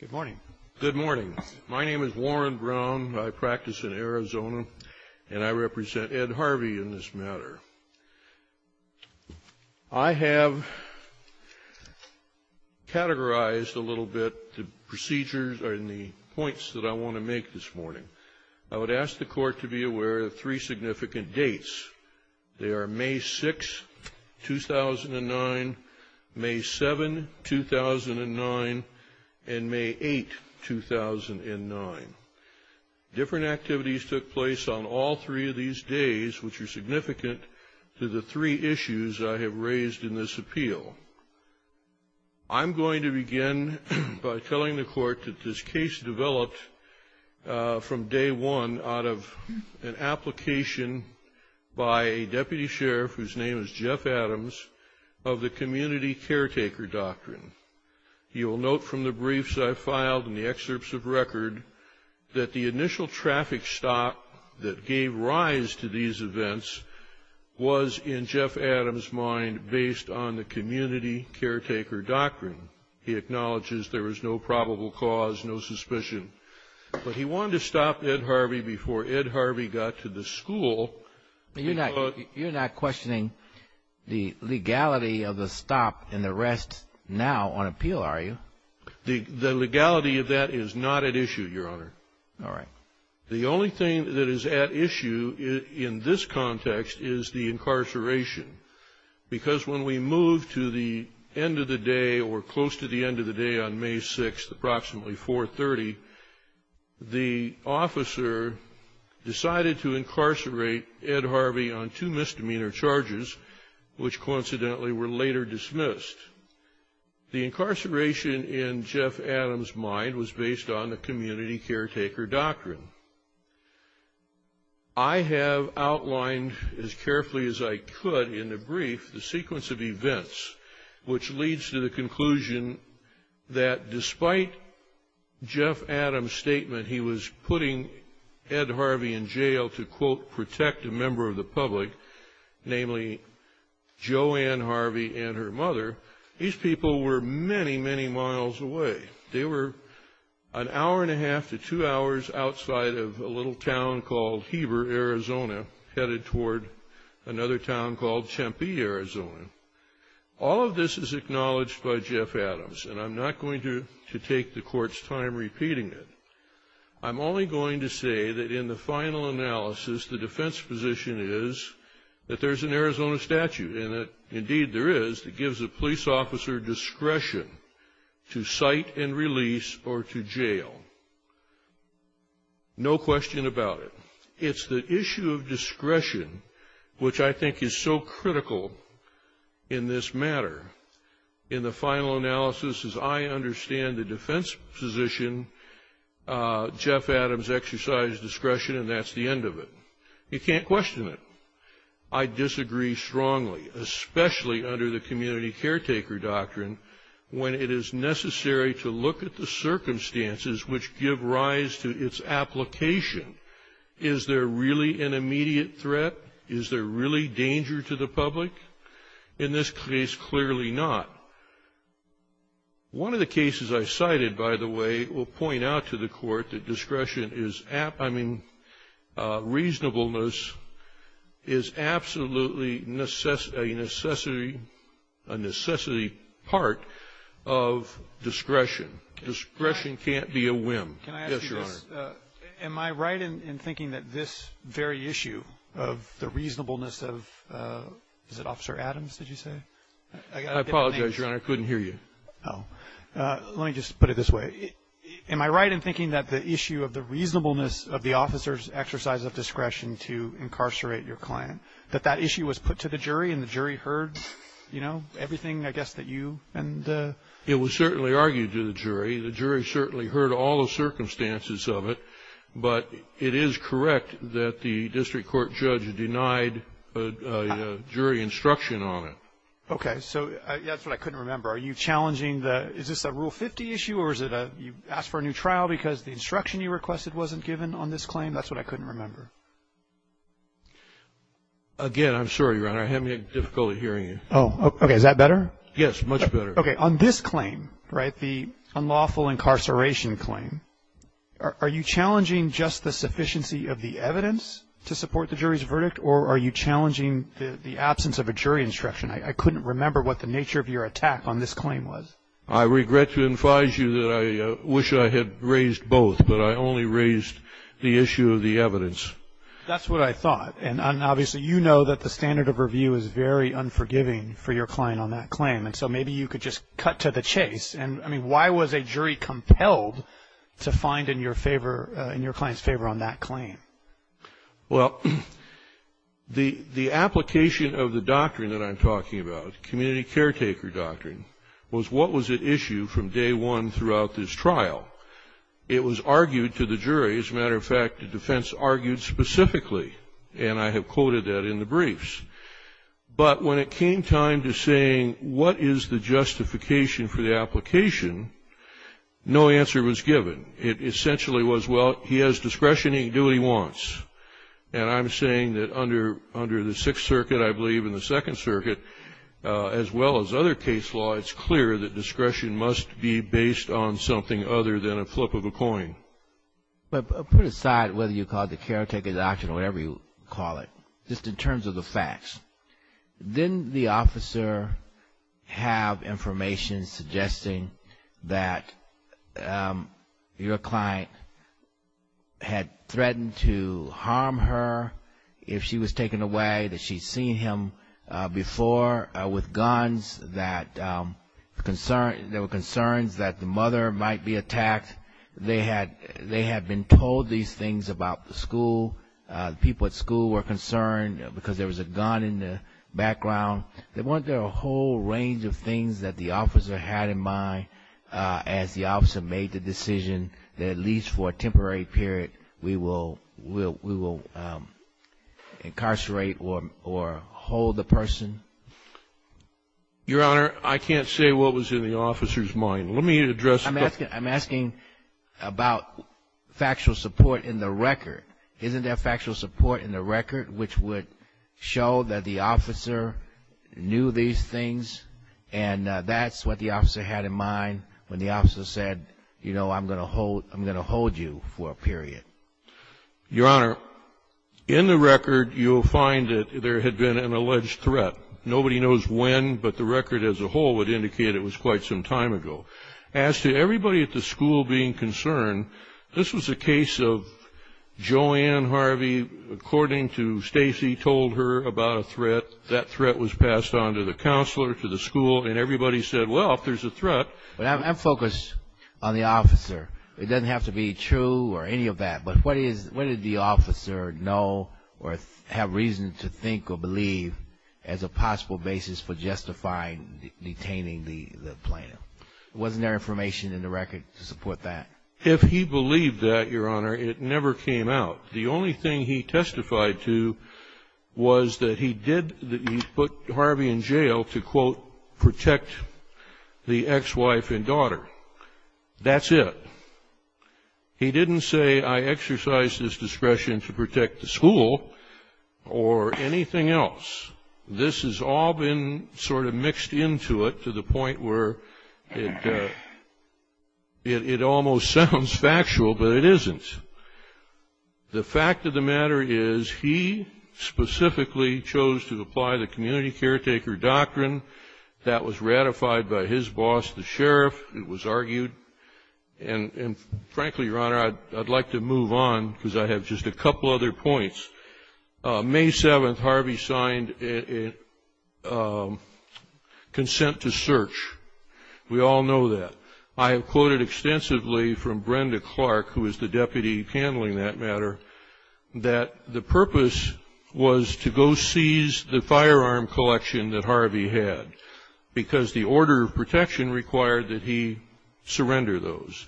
Good morning. Good morning. My name is Warren Brown. I practice in Arizona, and I represent Ed Harvey in this matter. I have categorized a little bit the procedures or the points that I want to make this morning. I would ask the Court to be aware of three significant dates. They are May 6, 2009, May 7, 2009, and May 8, 2009. Different activities took place on all three of these days, which are significant to the three issues I have raised in this appeal. I'm going to begin by telling the Court that this case developed from day one out of an application by a deputy sheriff whose name is Jeff Adams of the Community Caretaker Doctrine. You will note from the briefs I filed and the excerpts of record that the initial traffic stop that gave rise to these events was, in Jeff Adams' mind, based on the Community Caretaker Doctrine. He acknowledges there was no probable cause, no suspicion, but he wanted to stop Ed Harvey before Ed Harvey got to the school. You're not questioning the legality of the stop and the rest now on appeal, are you? The legality of that is not at issue, Your Honor. The only thing that is at issue in this context is the incarceration. Because when we move to the end of the day or close to the end of the day on May 6, approximately 430, the officer decided to incarcerate Ed Harvey on two misdemeanor charges, which coincidentally were later dismissed. The incarceration in Jeff Adams' mind was based on the Community Caretaker Doctrine. I have outlined as carefully as I could in the brief the sequence of events which leads to the conclusion that despite Jeff Adams' statement he was putting Ed Harvey in jail to, quote, protect a member of the public, namely Joanne Harvey and her mother, these people were many, many miles away. They were an hour and a half to two hours outside of a little town called Heber, Arizona, headed toward another town called Tempe, Arizona. All of this is acknowledged by Jeff Adams, and I'm not going to take the Court's time repeating it. I'm only going to say that in the final analysis, the defense position is that there's an Arizona statute, and that indeed there is, that gives a police officer discretion to cite and release or to jail. No question about it. It's the issue of discretion which I think is so critical in this matter. In the final analysis, as I understand the defense position, Jeff Adams exercised discretion, and that's the end of it. You can't question it. I disagree strongly, especially under the Community Caretaker Doctrine, when it is necessary to look at the circumstances which give rise to its application. Is there really an immediate threat? Is there really danger to the public? In this case, clearly not. One of the cases I cited, by the way, will point out to the Court that discretion is, I mean, discretion can't be a whim. Yes, Your Honor. Am I right in thinking that this very issue of the reasonableness of, is it Officer Adams, did you say? I apologize, Your Honor, I couldn't hear you. Oh. Let me just put it this way. Am I right in thinking that the issue of the reasonableness of the officer's exercise of discretion to incarcerate your client, that that issue was put to the jury, and the jury heard, you know, everything, I guess, that you and the? It was certainly argued to the jury. The jury certainly heard all the circumstances of it, but it is correct that the district court judge denied jury instruction on it. Okay. So, that's what I couldn't remember. Are you challenging the, is this a Rule 50 issue, or is it a, you asked for a new trial because the instruction you requested wasn't given on this claim? That's what I couldn't remember. Again, I'm sorry, Your Honor, I'm having difficulty hearing you. Oh, okay. Is that better? Yes, much better. Okay. On this claim, right, the unlawful incarceration claim, are you challenging just the sufficiency of the evidence to support the jury's verdict, or are you challenging the absence of a jury instruction? I couldn't remember what the nature of your attack on this claim was. I regret to advise you that I wish I had raised both, but I only raised the issue of the evidence. That's what I thought, and obviously, you know that the standard of review is very unforgiving for your client on that claim, and so maybe you could just cut to the chase. And, I mean, why was a jury compelled to find in your favor, in your client's favor on that claim? Well, the application of the doctrine that I'm talking about, community caretaker doctrine, was what was at issue from day one throughout this trial. It was argued to the jury. As a matter of fact, the defense argued specifically, and I have quoted that in the briefs. But when it came time to saying what is the justification for the application, no answer was given. It essentially was, well, he has discretion, he can do what he wants. And I'm saying that under the Sixth Circuit, I believe, and the Second Circuit, as well as other case law, it's clear that discretion must be based But put aside whether you call it the caretaker doctrine or whatever you call it, just in terms of the facts. Didn't the officer have information suggesting that your client had threatened to harm her if she was taken away, that she'd seen him before with guns, that there were concerns that the mother might be attacked? They had been told these things about the school. The people at school were concerned because there was a gun in the background. There weren't a whole range of things that the officer had in mind as the officer made the decision that at least for a temporary period, we will incarcerate or hold the person. Your Honor, I can't say what was in the officer's mind. Let me address- I'm asking about factual support in the record. Isn't there factual support in the record which would show that the officer knew these things? And that's what the officer had in mind when the officer said, you know, I'm going to hold you for a period. Your Honor, in the record, you'll find that there had been an alleged threat. Nobody knows when, but the record as a whole would indicate it was quite some time ago. As to everybody at the school being concerned, this was a case of Joanne Harvey, according to Stacy, told her about a threat. That threat was passed on to the counselor, to the school, and everybody said, well, if there's a threat- I'm focused on the officer. It doesn't have to be true or any of that, but what did the officer know or have reason to think or believe as a possible basis for justifying detaining the plaintiff? Wasn't there information in the record to support that? If he believed that, Your Honor, it never came out. The only thing he testified to was that he did- that he put Harvey in jail to, quote, protect the ex-wife and daughter. That's it. He didn't say, I exercise this discretion to protect the school or anything else. This has all been sort of mixed into it to the point where it almost sounds factual, but it isn't. The fact of the matter is he specifically chose to apply the community caretaker doctrine that was ratified by his boss, the sheriff. It was argued, and frankly, Your Honor, I'd like to move on because I have just a couple other points. May 7th, Harvey signed a consent to search. We all know that. I have quoted extensively from Brenda Clark, who is the deputy handling that matter, that the purpose was to go seize the firearm collection that Harvey had because the order of protection required that he surrender those.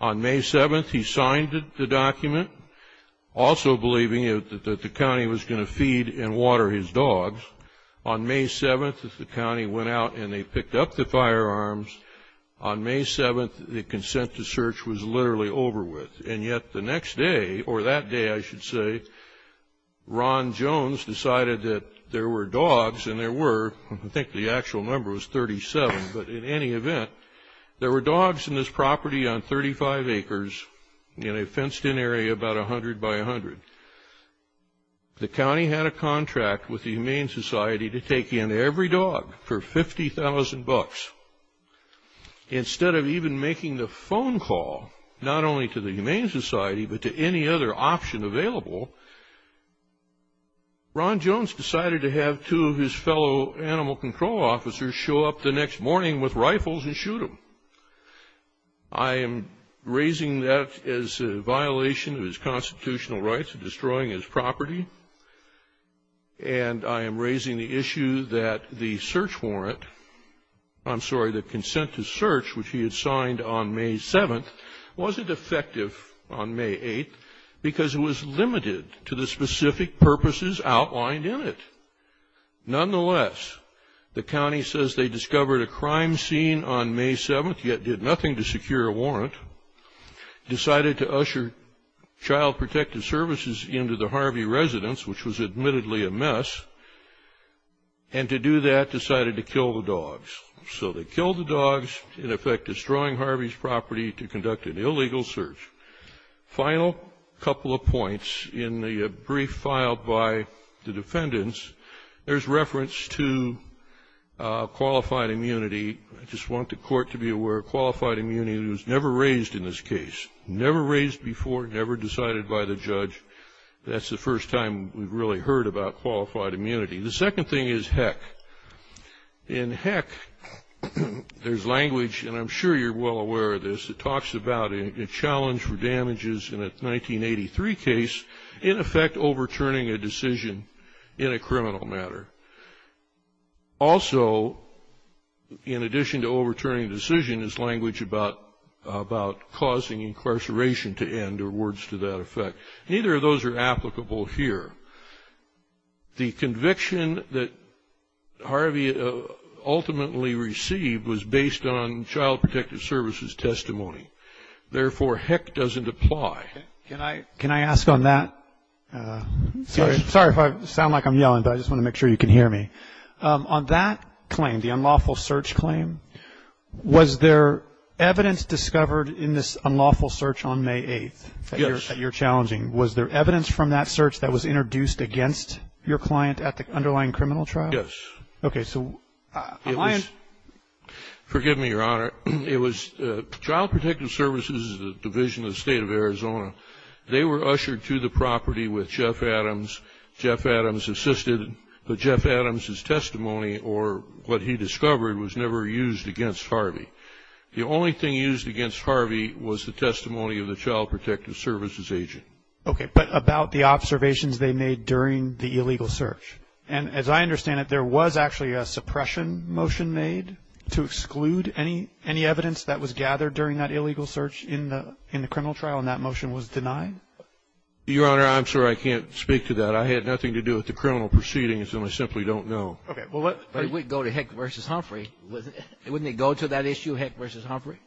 On May 7th, he signed the document, also believing that the county was going to feed and water his dogs. On May 7th, the county went out and they picked up the firearms. On May 7th, the consent to search was literally over with. And yet the next day, or that day, I should say, Ron Jones decided that there were dogs, and there were, I think the actual number was 37, but in any event, there were dogs in this property on 35 acres in a fenced-in area about 100 by 100. The county had a contract with the Humane Society to take in every dog for 50,000 bucks. Instead of even making the phone call, not only to the Humane Society, but to any other option available, Ron Jones decided to have two of his fellow animal control officers show up the next morning with rifles and shoot them. I am raising that as a violation of his constitutional rights, destroying his property. And I am raising the issue that the search warrant, I'm sorry, the consent to search, which he had signed on May 7th, wasn't effective on May 8th because it was limited to the specific purposes outlined in it. Nonetheless, the county says they discovered a crime scene on May 7th, yet did nothing to secure a warrant, decided to usher Child Protective Services into the Harvey residence, which was admittedly a mess, and to do that, decided to kill the dogs. So they killed the dogs, in effect destroying Harvey's property to conduct an illegal search. Final couple of points. In the brief filed by the defendants, there's reference to qualified immunity. I just want the court to be aware, qualified immunity was never raised in this case. Never raised before, never decided by the judge. That's the first time we've really heard about qualified immunity. The second thing is heck. In heck, there's language, and I'm sure you're well aware of this, it talks about a challenge for damages in a 1983 case, in effect overturning a decision in a criminal matter. Also, in addition to overturning a decision, there's language about causing incarceration to end, or words to that effect. Neither of those are applicable here. The conviction that Harvey ultimately received was based on Child Protective Services testimony. Therefore, heck doesn't apply. Can I ask on that? Sorry if I sound like I'm yelling, but I just want to make sure you can hear me. On that claim, the unlawful search claim, was there evidence discovered in this unlawful search on May 8th that you're challenging? Was there evidence from that search that was introduced against your client at the underlying criminal trial? Yes. Okay, so on my end. Forgive me, Your Honor. It was Child Protective Services, the Division of the State of Arizona. They were ushered to the property with Jeff Adams. Jeff Adams assisted, but Jeff Adams' testimony or what he discovered was never used against Harvey. The only thing used against Harvey was the testimony of the Child Protective Services agent. Okay, but about the observations they made during the illegal search. And as I understand it, there was actually a suppression motion made to exclude any evidence that was gathered during that illegal search in the criminal trial, and that motion was denied? Your Honor, I'm sorry. I can't speak to that. I had nothing to do with the criminal proceedings, and I simply don't know. Okay, well let's go to Heck v. Humphrey. Wouldn't it go to that issue, Heck v. Humphrey?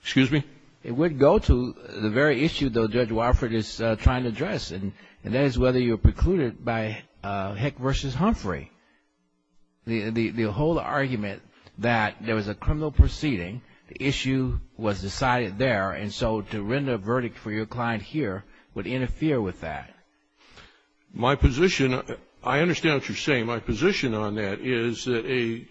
Excuse me? It would go to the very issue, though, Judge Wofford is trying to address, and that is whether you're precluded by Heck v. Humphrey. The whole argument that there was a criminal proceeding, the issue was decided there, and so to render a verdict for your client here would interfere with that. My position, I understand what you're saying. My position on that is that a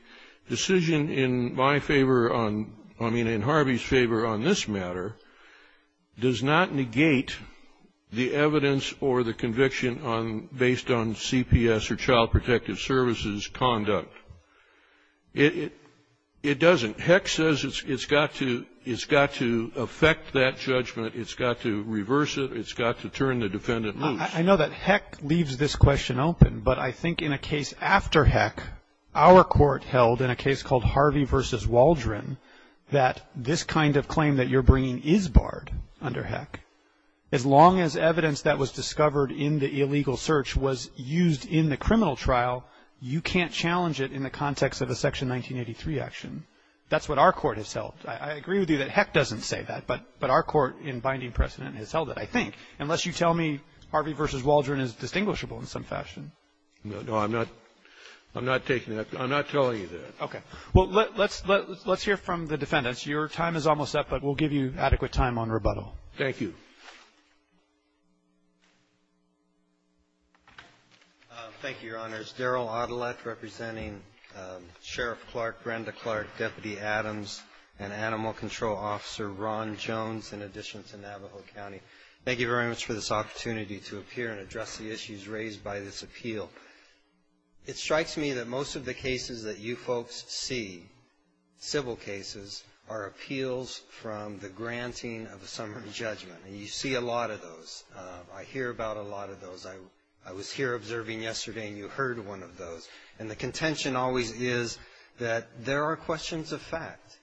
decision in my favor on, I mean in Harvey's favor on this matter, does not negate the evidence or the conviction on, based on CPS or Child Protective Services conduct. It doesn't. Heck says it's got to affect that judgment. It's got to reverse it. It's got to turn the defendant loose. I know that Heck leaves this question open, but I think in a case after Heck, our court held in a case called Harvey v. Waldron that this kind of claim that you're bringing is barred under Heck. As long as evidence that was discovered in the illegal search was used in the criminal trial, you can't challenge it in the context of a Section 1983 action. That's what our court has held. I agree with you that Heck doesn't say that, but our court in binding precedent has held it, I think. Unless you tell me Harvey v. Waldron is distinguishable in some fashion. No, I'm not taking that. I'm not telling you that. Okay. Well, let's hear from the defendants. Your time is almost up, but we'll give you adequate time on rebuttal. Thank you. Thank you, Your Honors. Daryl Adelet representing Sheriff Clark, Brenda Clark, Deputy Adams, and Animal Control Officer Ron Jones, in addition to Navajo County. Thank you very much for this opportunity to appear and address the issues raised by this appeal. It strikes me that most of the cases that you folks see, civil cases, are appeals from the granting of a summary judgment. And you see a lot of those. I hear about a lot of those. I was here observing yesterday, and you heard one of those. And the contention always is that there are questions of fact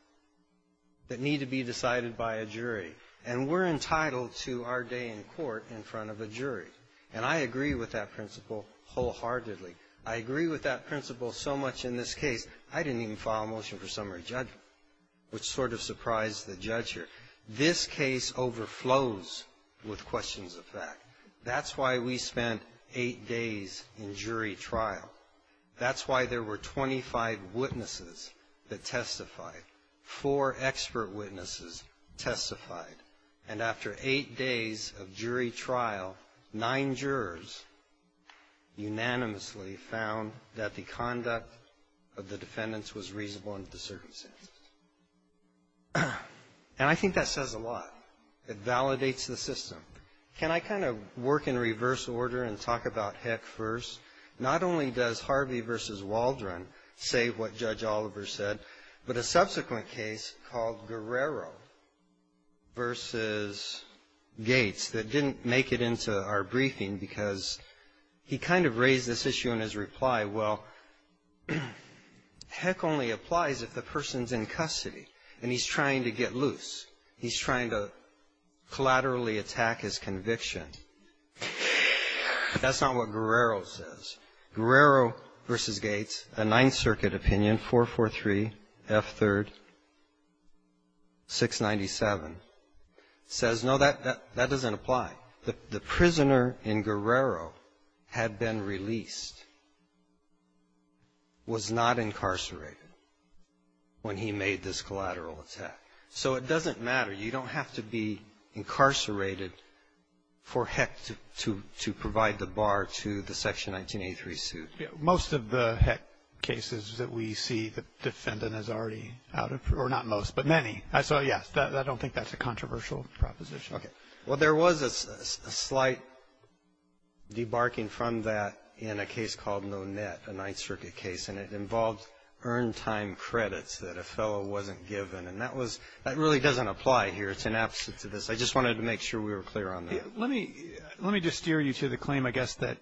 that need to be decided by a jury. And we're entitled to our day in court in front of a jury. And I agree with that principle wholeheartedly. I agree with that principle so much in this case. I didn't even file a motion for summary judgment, which sort of surprised the judge here. This case overflows with questions of fact. That's why we spent eight days in jury trial. That's why there were 25 witnesses that testified. Four expert witnesses testified. And after eight days of jury trial, nine jurors unanimously found that the conduct of the defendants was reasonable under the circumstances. And I think that says a lot. It validates the system. Can I kind of work in reverse order and talk about Heck first? Not only does Harvey versus Waldron say what Judge Oliver said, but a subsequent case called Guerrero versus Gates that didn't make it into our briefing because he kind of raised this issue in his reply. Well, Heck only applies if the person's in custody and he's trying to get loose. He's trying to collaterally attack his conviction. That's not what Guerrero says. Guerrero versus Gates, a Ninth Circuit opinion, 443 F3rd 697, says no, that doesn't apply. The prisoner in Guerrero had been released, was not incarcerated when he made this collateral attack. So it doesn't matter. You don't have to be incarcerated for Heck to provide the bar to the Section 1983 suit. Most of the Heck cases that we see, the defendant is already out of or not most, but many. So, yes, I don't think that's a controversial proposition. Okay. Well, there was a slight debarking from that in a case called Nonet, a Ninth Circuit case, and it involved earned time credits that a fellow wasn't given. And that really doesn't apply here. It's an absence of this. I just wanted to make sure we were clear on that. Let me just steer you to the claim, I guess, that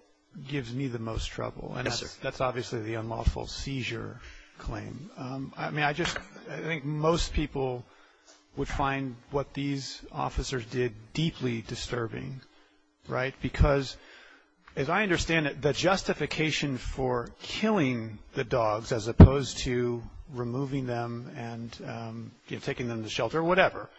gives me the most trouble. Yes, sir. That's obviously the unlawful seizure claim. I mean, I think most people would find what these officers did deeply disturbing, right? Because, as I understand it, the justification for killing the dogs, as opposed to removing them and, you know, taking them to shelter or whatever,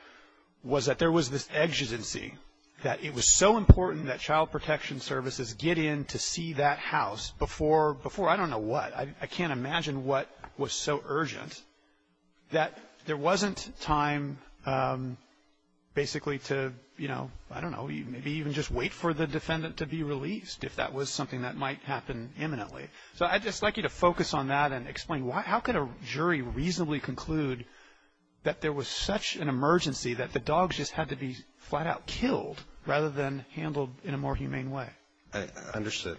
was that there was this exigency that it was so important that child protection services get in to see that house before, I don't know what, I can't imagine what was so urgent that there wasn't time basically to, you know, I don't know, maybe even just wait for the defendant to be released, if that was something that might happen imminently. So I'd just like you to focus on that and explain why, how could a jury reasonably conclude that there was such an emergency that the dogs just had to be flat out killed rather than handled in a more humane way? I understood.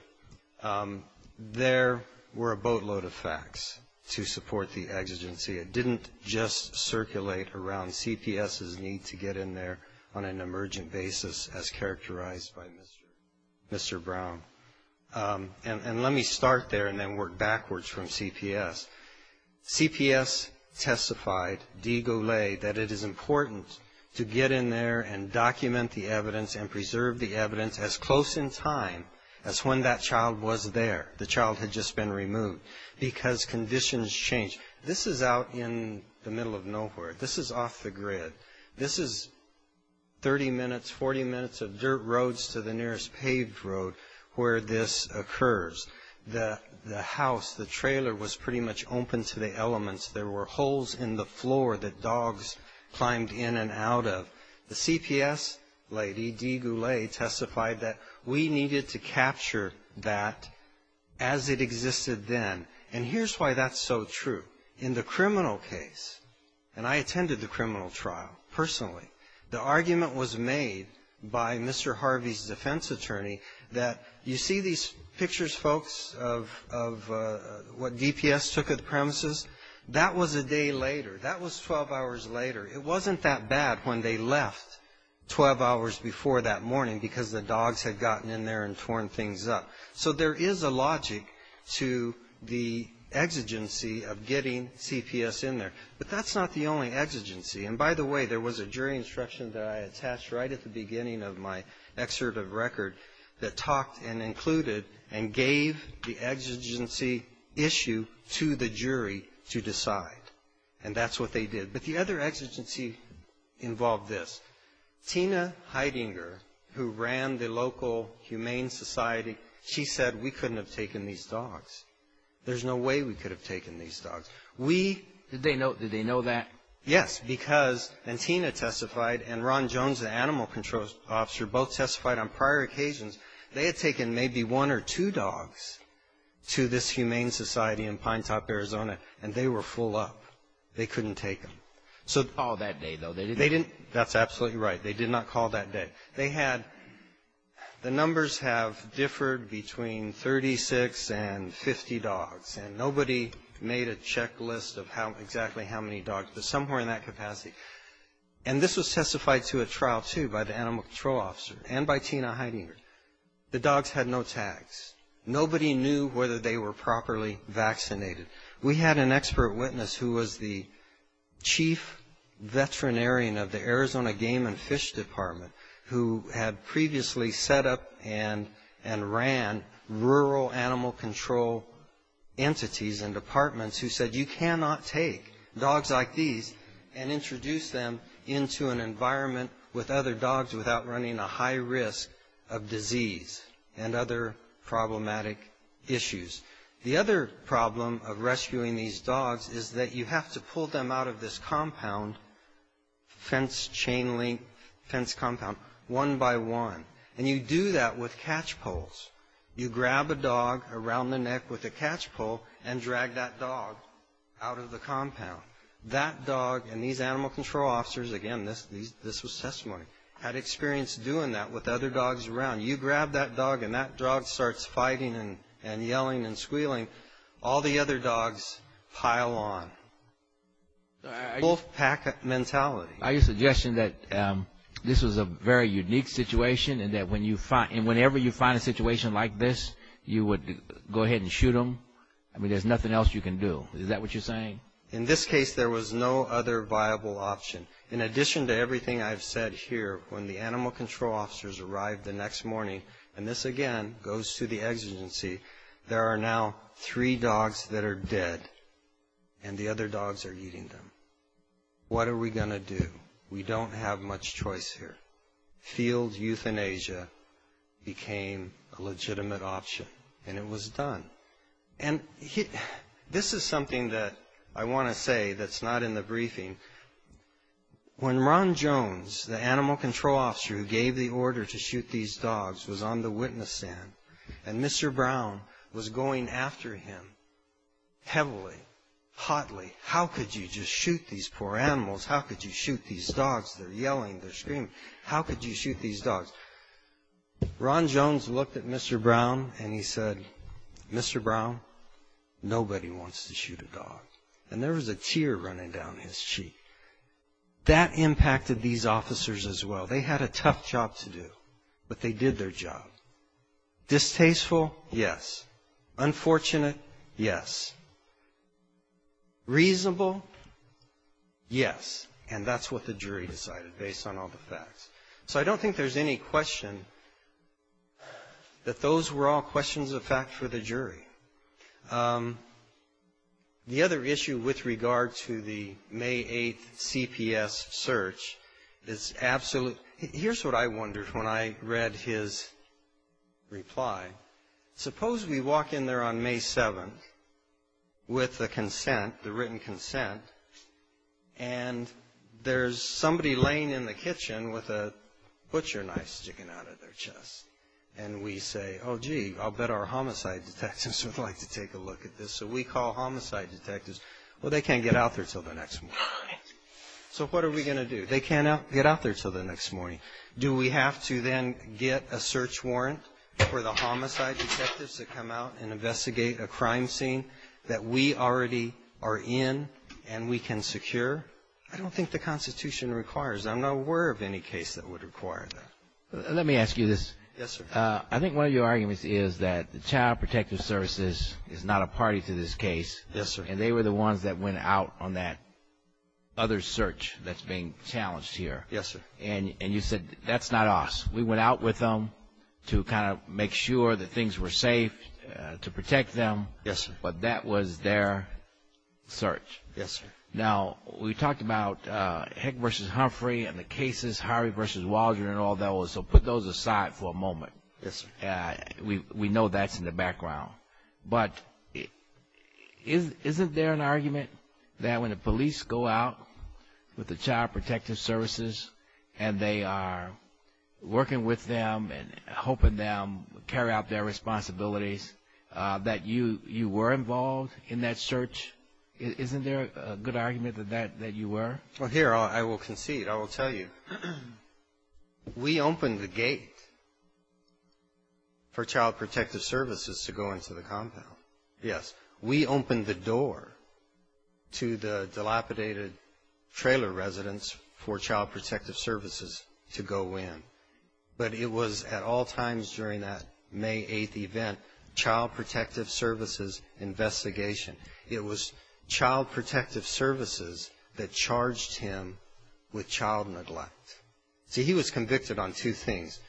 There were a boatload of facts to support the exigency. It didn't just circulate around CPS's need to get in there on an emergent basis as characterized by Mr. Brown. And let me start there and then work backwards from CPS. CPS testified, de Gaulle, that it is important to get in there and document the evidence and preserve the evidence as close in time as when that child was there, the child had just been removed, because conditions change. This is out in the middle of nowhere. This is off the grid. This is 30 minutes, 40 minutes of dirt roads to the nearest paved road, where this occurs, the house, the trailer was pretty much open to the elements. There were holes in the floor that dogs climbed in and out of. The CPS lady, de Gaulle, testified that we needed to capture that as it existed then. And here's why that's so true. In the criminal case, and I attended the criminal trial personally, the argument was made by Mr. Harvey's defense attorney that you see these pictures, folks, of what DPS took of the premises? That was a day later. That was 12 hours later. It wasn't that bad when they left 12 hours before that morning, because the dogs had gotten in there and torn things up. So there is a logic to the exigency of getting CPS in there. But that's not the only exigency. And by the way, there was a jury instruction that I attached right at the beginning of my excerpt of record that talked and included and gave the exigency issue to the jury to decide. And that's what they did. But the other exigency involved this. Tina Heidinger, who ran the local Humane Society, she said we couldn't have taken these dogs. There's no way we could have taken these dogs. We --. Did they know that? Yes, because, and Tina testified, and Ron Jones, the animal control officer, both testified on prior occasions, they had taken maybe one or two dogs to this Humane Society in Pinetop, Arizona, and they were full up. They couldn't take them. So- They didn't call that day, though. They didn't- That's absolutely right. They did not call that day. They had, the numbers have differed between 36 and 50 dogs. And nobody made a checklist of how, exactly how many dogs, but somewhere in that capacity. And this was testified to at trial, too, by the animal control officer and by Tina Heidinger. The dogs had no tags. Nobody knew whether they were properly vaccinated. We had an expert witness who was the chief veterinarian of the Arizona Game and Fish Department, who had previously set up and ran rural animal control entities and departments who said, you cannot take dogs like these and introduce them into an environment with other dogs without running a high risk of disease and other problematic issues. The other problem of rescuing these dogs is that you have to pull them out of this compound, fence chain link, fence compound, one by one. And you do that with catch poles. You grab a dog around the neck with a catch pole and drag that dog out of the compound. That dog and these animal control officers, again, this was testimony, had experience doing that with other dogs around. You grab that dog and that dog starts fighting and yelling and squealing. All the other dogs pile on. Wolf pack mentality. I use the suggestion that this was a very unique situation and that whenever you find a situation like this, you would go ahead and shoot them. I mean, there's nothing else you can do. Is that what you're saying? In this case, there was no other viable option. In addition to everything I've said here, when the animal control officers arrived the next morning, and this again goes to the exigency, there are now three dogs that are dead and the other dogs are eating them. What are we going to do? We don't have much choice here. Field euthanasia became a legitimate option and it was done. And this is something that I want to say that's not in the briefing. When Ron Jones, the animal control officer who gave the order to shoot these dogs, was on the witness stand and Mr. Brown was going after him heavily, hotly, how could you just shoot these poor animals? How could you shoot these dogs? They're yelling, they're screaming. How could you shoot these dogs? Ron Jones looked at Mr. Brown and he said, Mr. Brown, nobody wants to shoot a dog. And there was a tear running down his cheek. That impacted these officers as well. They had a tough job to do, but they did their job. Distasteful, yes. Unfortunate, yes. Reasonable, yes. And that's what the jury decided based on all the facts. So I don't think there's any question that those were all questions of fact for the jury. The other issue with regard to the May 8th CPS search is absolute. Here's what I wondered when I read his reply. Suppose we walk in there on May 7th with the consent, the written consent, and there's somebody laying in the kitchen with a butcher knife sticking out of their chest. And we say, oh, gee, I'll bet our homicide detectives would like to take a look at this. So we call homicide detectives. Well, they can't get out there until the next morning. So what are we going to do? They can't get out there until the next morning. Do we have to then get a search warrant for the homicide detectives to come out and investigate a crime scene that we already are in and we can secure? I don't think the Constitution requires that. I'm not aware of any case that would require that. Let me ask you this. Yes, sir. I think one of your arguments is that the Child Protective Services is not a party to this case. Yes, sir. And they were the ones that went out on that other search that's being challenged here. Yes, sir. And you said, that's not us. We went out with them to kind of make sure that things were safe, to protect them. Yes, sir. But that was their search. Yes, sir. Now, we talked about Heck versus Humphrey and the cases, Harvey versus Waldron and all that was. So put those aside for a moment. Yes, sir. We know that's in the background. But isn't there an argument that when the police go out with the Child Protective Services and they are working with them and helping them carry out their responsibilities, that you were involved in that search? Isn't there a good argument that you were? Well, here, I will concede. I will tell you. We opened the gate for Child Protective Services to go into the compound. Yes. We opened the door to the dilapidated trailer residence for Child Protective Services to go in. But it was at all times during that May 8th event, Child Protective Services investigation. It was Child Protective Services that charged him with child neglect. See, he was convicted on two things,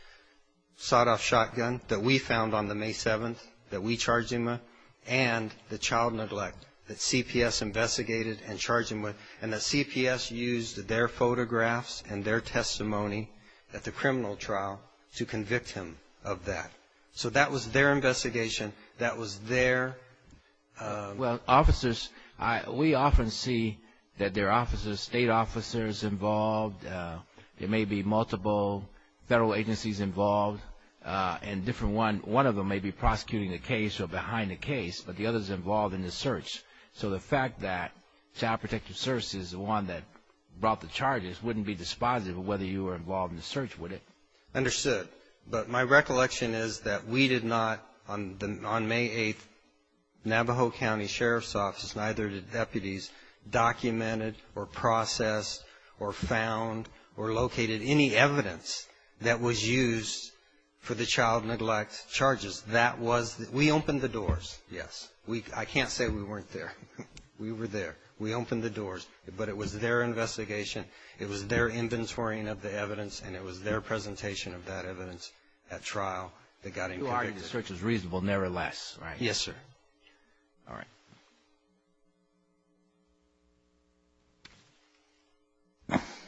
a sawed-off shotgun that we found on the May 7th that we charged him with, and the child neglect that CPS investigated and charged him with, and that CPS used their photographs and their testimony at the criminal trial to convict him of that. So that was their investigation. That was their... Well, officers, we often see that there are officers, state officers involved. There may be multiple federal agencies involved, and one of them may be prosecuting the case or behind the case, but the other is involved in the search. So the fact that Child Protective Services is the one that brought the charges wouldn't be dispositive of whether you were involved in the search, would it? Understood. But my recollection is that we did not, on May 8th, Navajo County Sheriff's Office, neither did deputies, documented or processed or found or located any evidence that was used for the child neglect charges. That was... We opened the doors, yes. I can't say we weren't there. We were there. We opened the doors, but it was their investigation. It was their inventorying of the evidence, and it was their presentation of that evidence at trial that got... Who argued the search was reasonable, nevertheless, right? Yes, sir. All right.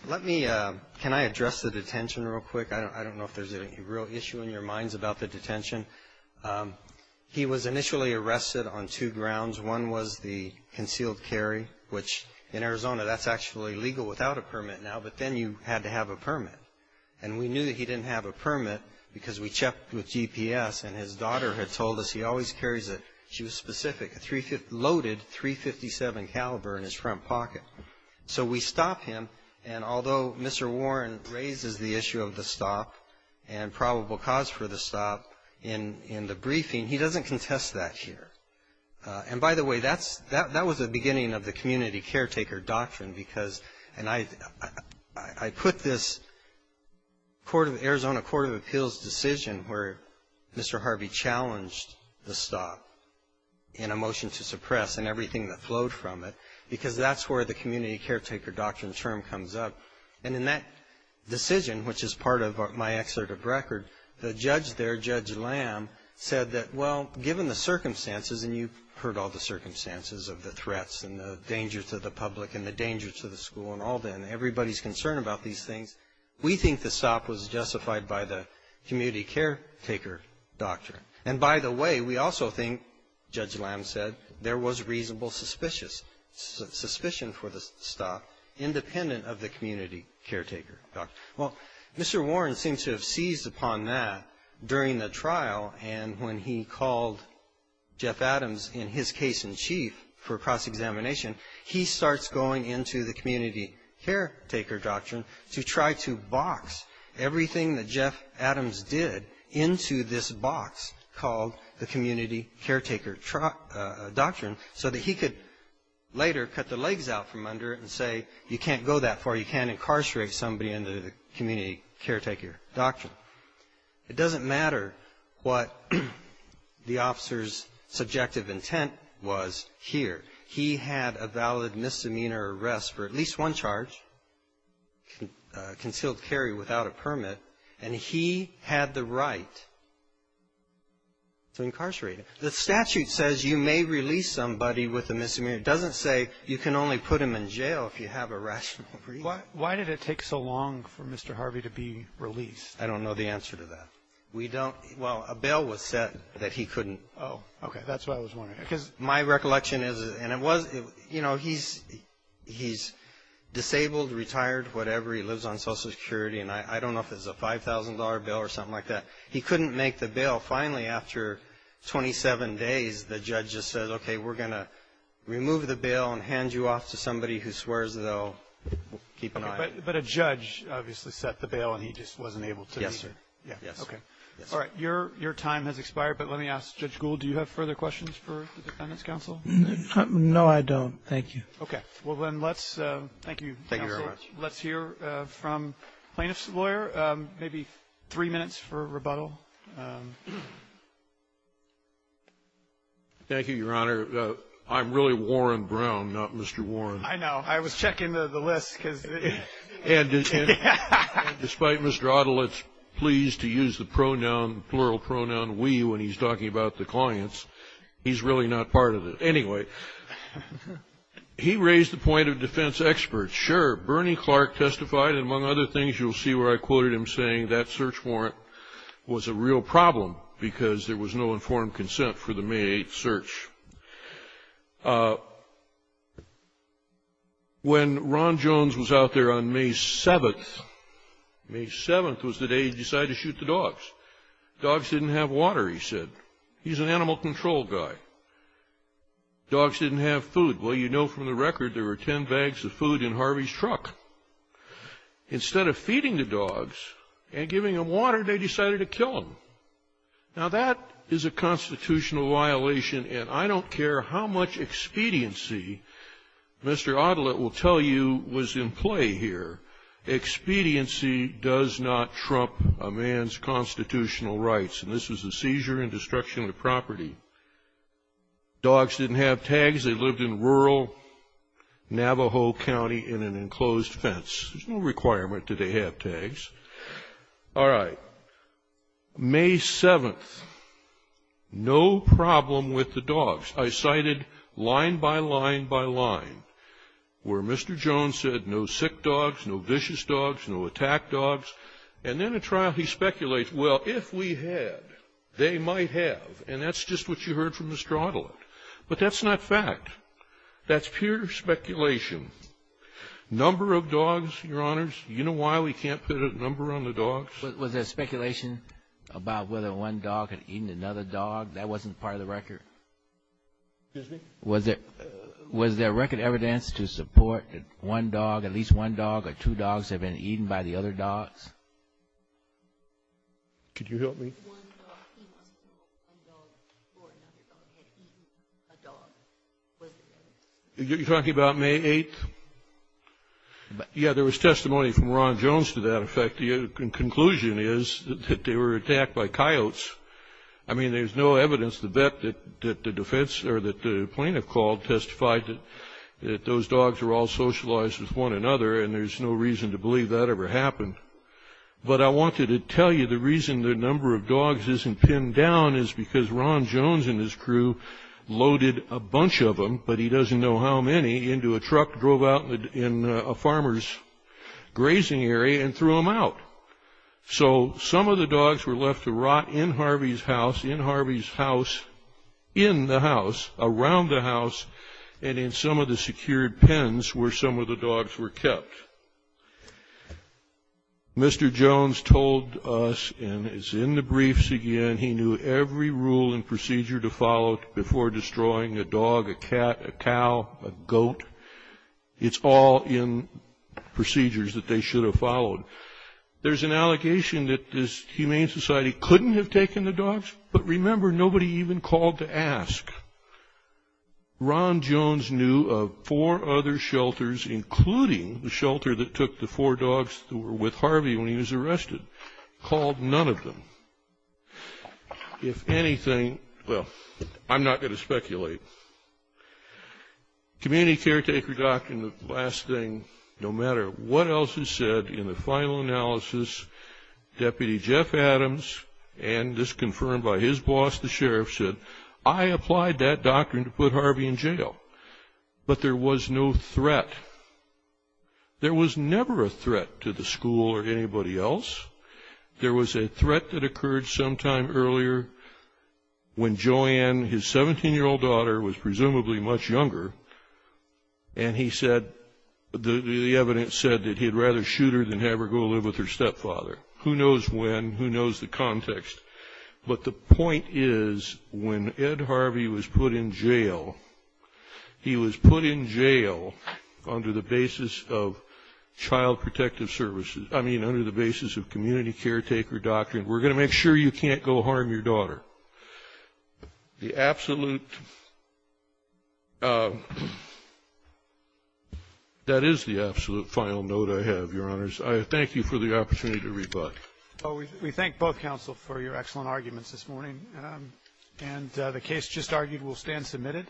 Let me... Can I address the detention real quick? I don't know if there's any real issue in your minds about the detention. He was initially arrested on two grounds. One was the concealed carry, which in Arizona, that's actually legal without a permit now, but then you had to have a permit. And we knew that he didn't have a permit because we checked with GPS, and his daughter had told us he always carries a... She was specific, a loaded .357 caliber in his front pocket. So we stopped him, and although Mr. Warren raises the issue of the stop and probable cause for the stop in the briefing, he doesn't contest that here. And by the way, that was the beginning of the community caretaker doctrine because... And I put this Arizona Court of Appeals decision where Mr. Harvey challenged the stop in a motion to suppress and everything that flowed from it because that's where the community caretaker doctrine term comes up. And in that decision, which is part of my excerpt of record, the judge there, Judge Lamb, said that, well, given the circumstances, and you've heard all the circumstances of the threats and the danger to the public and the danger to the school and all that, and everybody's concerned about these things, we think the stop was justified by the community caretaker doctrine. And by the way, we also think, Judge Lamb said, there was reasonable suspicion for the stop independent of the community caretaker doctrine. Well, Mr. Warren seems to have seized upon that during the trial and when he called Jeff Adams in his case in chief for cross-examination, he starts going into the community caretaker doctrine to try to box everything that Jeff Adams did into this box called the community caretaker doctrine so that he could later cut the legs out from under it and say, you can't go that far, you can't incarcerate somebody under the community caretaker doctrine. It doesn't matter what the officer's subjective intent was here. He had a valid misdemeanor arrest for at least one charge, concealed carry without a permit, and he had the right to incarcerate him. The statute says you may release somebody with a misdemeanor. It doesn't say you can only put them in jail if you have a rational reason. Why did it take so long for Mr. Harvey to be released? I don't know the answer to that. We don't, well, a bail was set that he couldn't. Oh, okay, that's what I was wondering. Because my recollection is, and it was, you know, he's disabled, retired, whatever, he lives on Social Security, and I don't know if it's a $5,000 bail or something like that. He couldn't make the bail. Finally, after 27 days, the judge just said, okay, we're going to remove the bail and hand you off to somebody who swears they'll keep an eye on you. But a judge obviously set the bail, and he just wasn't able to. Yes, sir. Yes. Okay. All right. Your time has expired, but let me ask Judge Gould, do you have further questions for the Defendant's counsel? No, I don't. Thank you. Okay. Well, then let's, thank you, counsel. Let's hear from plaintiff's lawyer, maybe three minutes for rebuttal. Thank you, Your Honor. I'm really Warren Brown, not Mr. Warren. I know. I was checking the list, because. And despite Mr. Ottolett's pleas to use the pronoun, plural pronoun, we, when he's talking about the clients, he's really not part of it. Anyway, he raised the point of defense experts. Sure, Bernie Clark testified, and among other things, you'll see where I quoted him saying that search warrant was a real problem, because there was no informed consent for the May 8th search. When Ron Jones was out there on May 7th, May 7th was the day he decided to shoot the dogs. Dogs didn't have water, he said. He's an animal control guy. Dogs didn't have food. Well, you know from the record, there were 10 bags of food in Harvey's truck. Instead of feeding the dogs and giving them water, they decided to kill them. I don't care how much expediency Mr. Ottolett will tell you was in play here. Expediency does not trump a man's constitutional rights. And this was a seizure and destruction of property. Dogs didn't have tags. They lived in rural Navajo County in an enclosed fence. There's no requirement that they have tags. All right. May 7th, no problem with the dogs. I cited line by line by line where Mr. Jones said no sick dogs, no vicious dogs, no attack dogs. And then at trial, he speculates, well, if we had, they might have. And that's just what you heard from Mr. Ottolett. But that's not fact. That's pure speculation. Number of dogs, Your Honors, you know why we can't put a number on the dogs? Was there speculation about whether one dog had eaten another dog? That wasn't part of the record. Excuse me? Was there record evidence to support that one dog, at least one dog or two dogs, had been eaten by the other dogs? Could you help me? One dog, he must have killed one dog before another dog had eaten a dog. You're talking about May 8th? Yeah, there was testimony from Ron Jones to that effect. The conclusion is that they were attacked by coyotes. I mean, there's no evidence to bet that the defense or that the plaintiff called testified that those dogs were all socialized with one another. And there's no reason to believe that ever happened. But I wanted to tell you the reason the number of dogs isn't pinned down is because Ron Jones and his crew loaded a bunch of them, but he doesn't know how many, into a truck, drove out in a farmer's grazing area and threw them out. So some of the dogs were left to rot in Harvey's house, in Harvey's house, in the house, around the house, and in some of the secured pens where some of the dogs were kept. Mr. Jones told us, and it's in the briefs again, he knew every rule and procedure to follow before destroying a dog, a cat, a cow, a goat. It's all in procedures that they should have followed. There's an allegation that this humane society couldn't have taken the dogs, but remember, nobody even called to ask. Ron Jones knew of four other shelters, including the shelter that took the four dogs that were with Harvey when he was arrested, called none of them. If anything, well, I'm not going to speculate. Community caretaker doctrine, the last thing, no matter what else is said in the final analysis, Deputy Jeff Adams, and this confirmed by his boss, the sheriff, said, I applied that doctrine to put Harvey in jail, but there was no threat. There was never a threat to the school or anybody else. There was a threat that occurred sometime earlier when Joanne, his 17-year-old daughter, was presumably much younger, and he said, the evidence said that he'd rather shoot her than have her go live with her stepfather. Who knows when, who knows the context, but the point is, when Ed Harvey was put in jail, he was put in jail under the basis of child protective services, I mean, under the basis of community caretaker doctrine. We're going to make sure you can't go harm your daughter. The absolute, that is the absolute final note I have, Your Honors. I thank you for the opportunity to rebut. Roberts. We thank both counsel for your excellent arguments this morning, and the case just argued will stand submitted.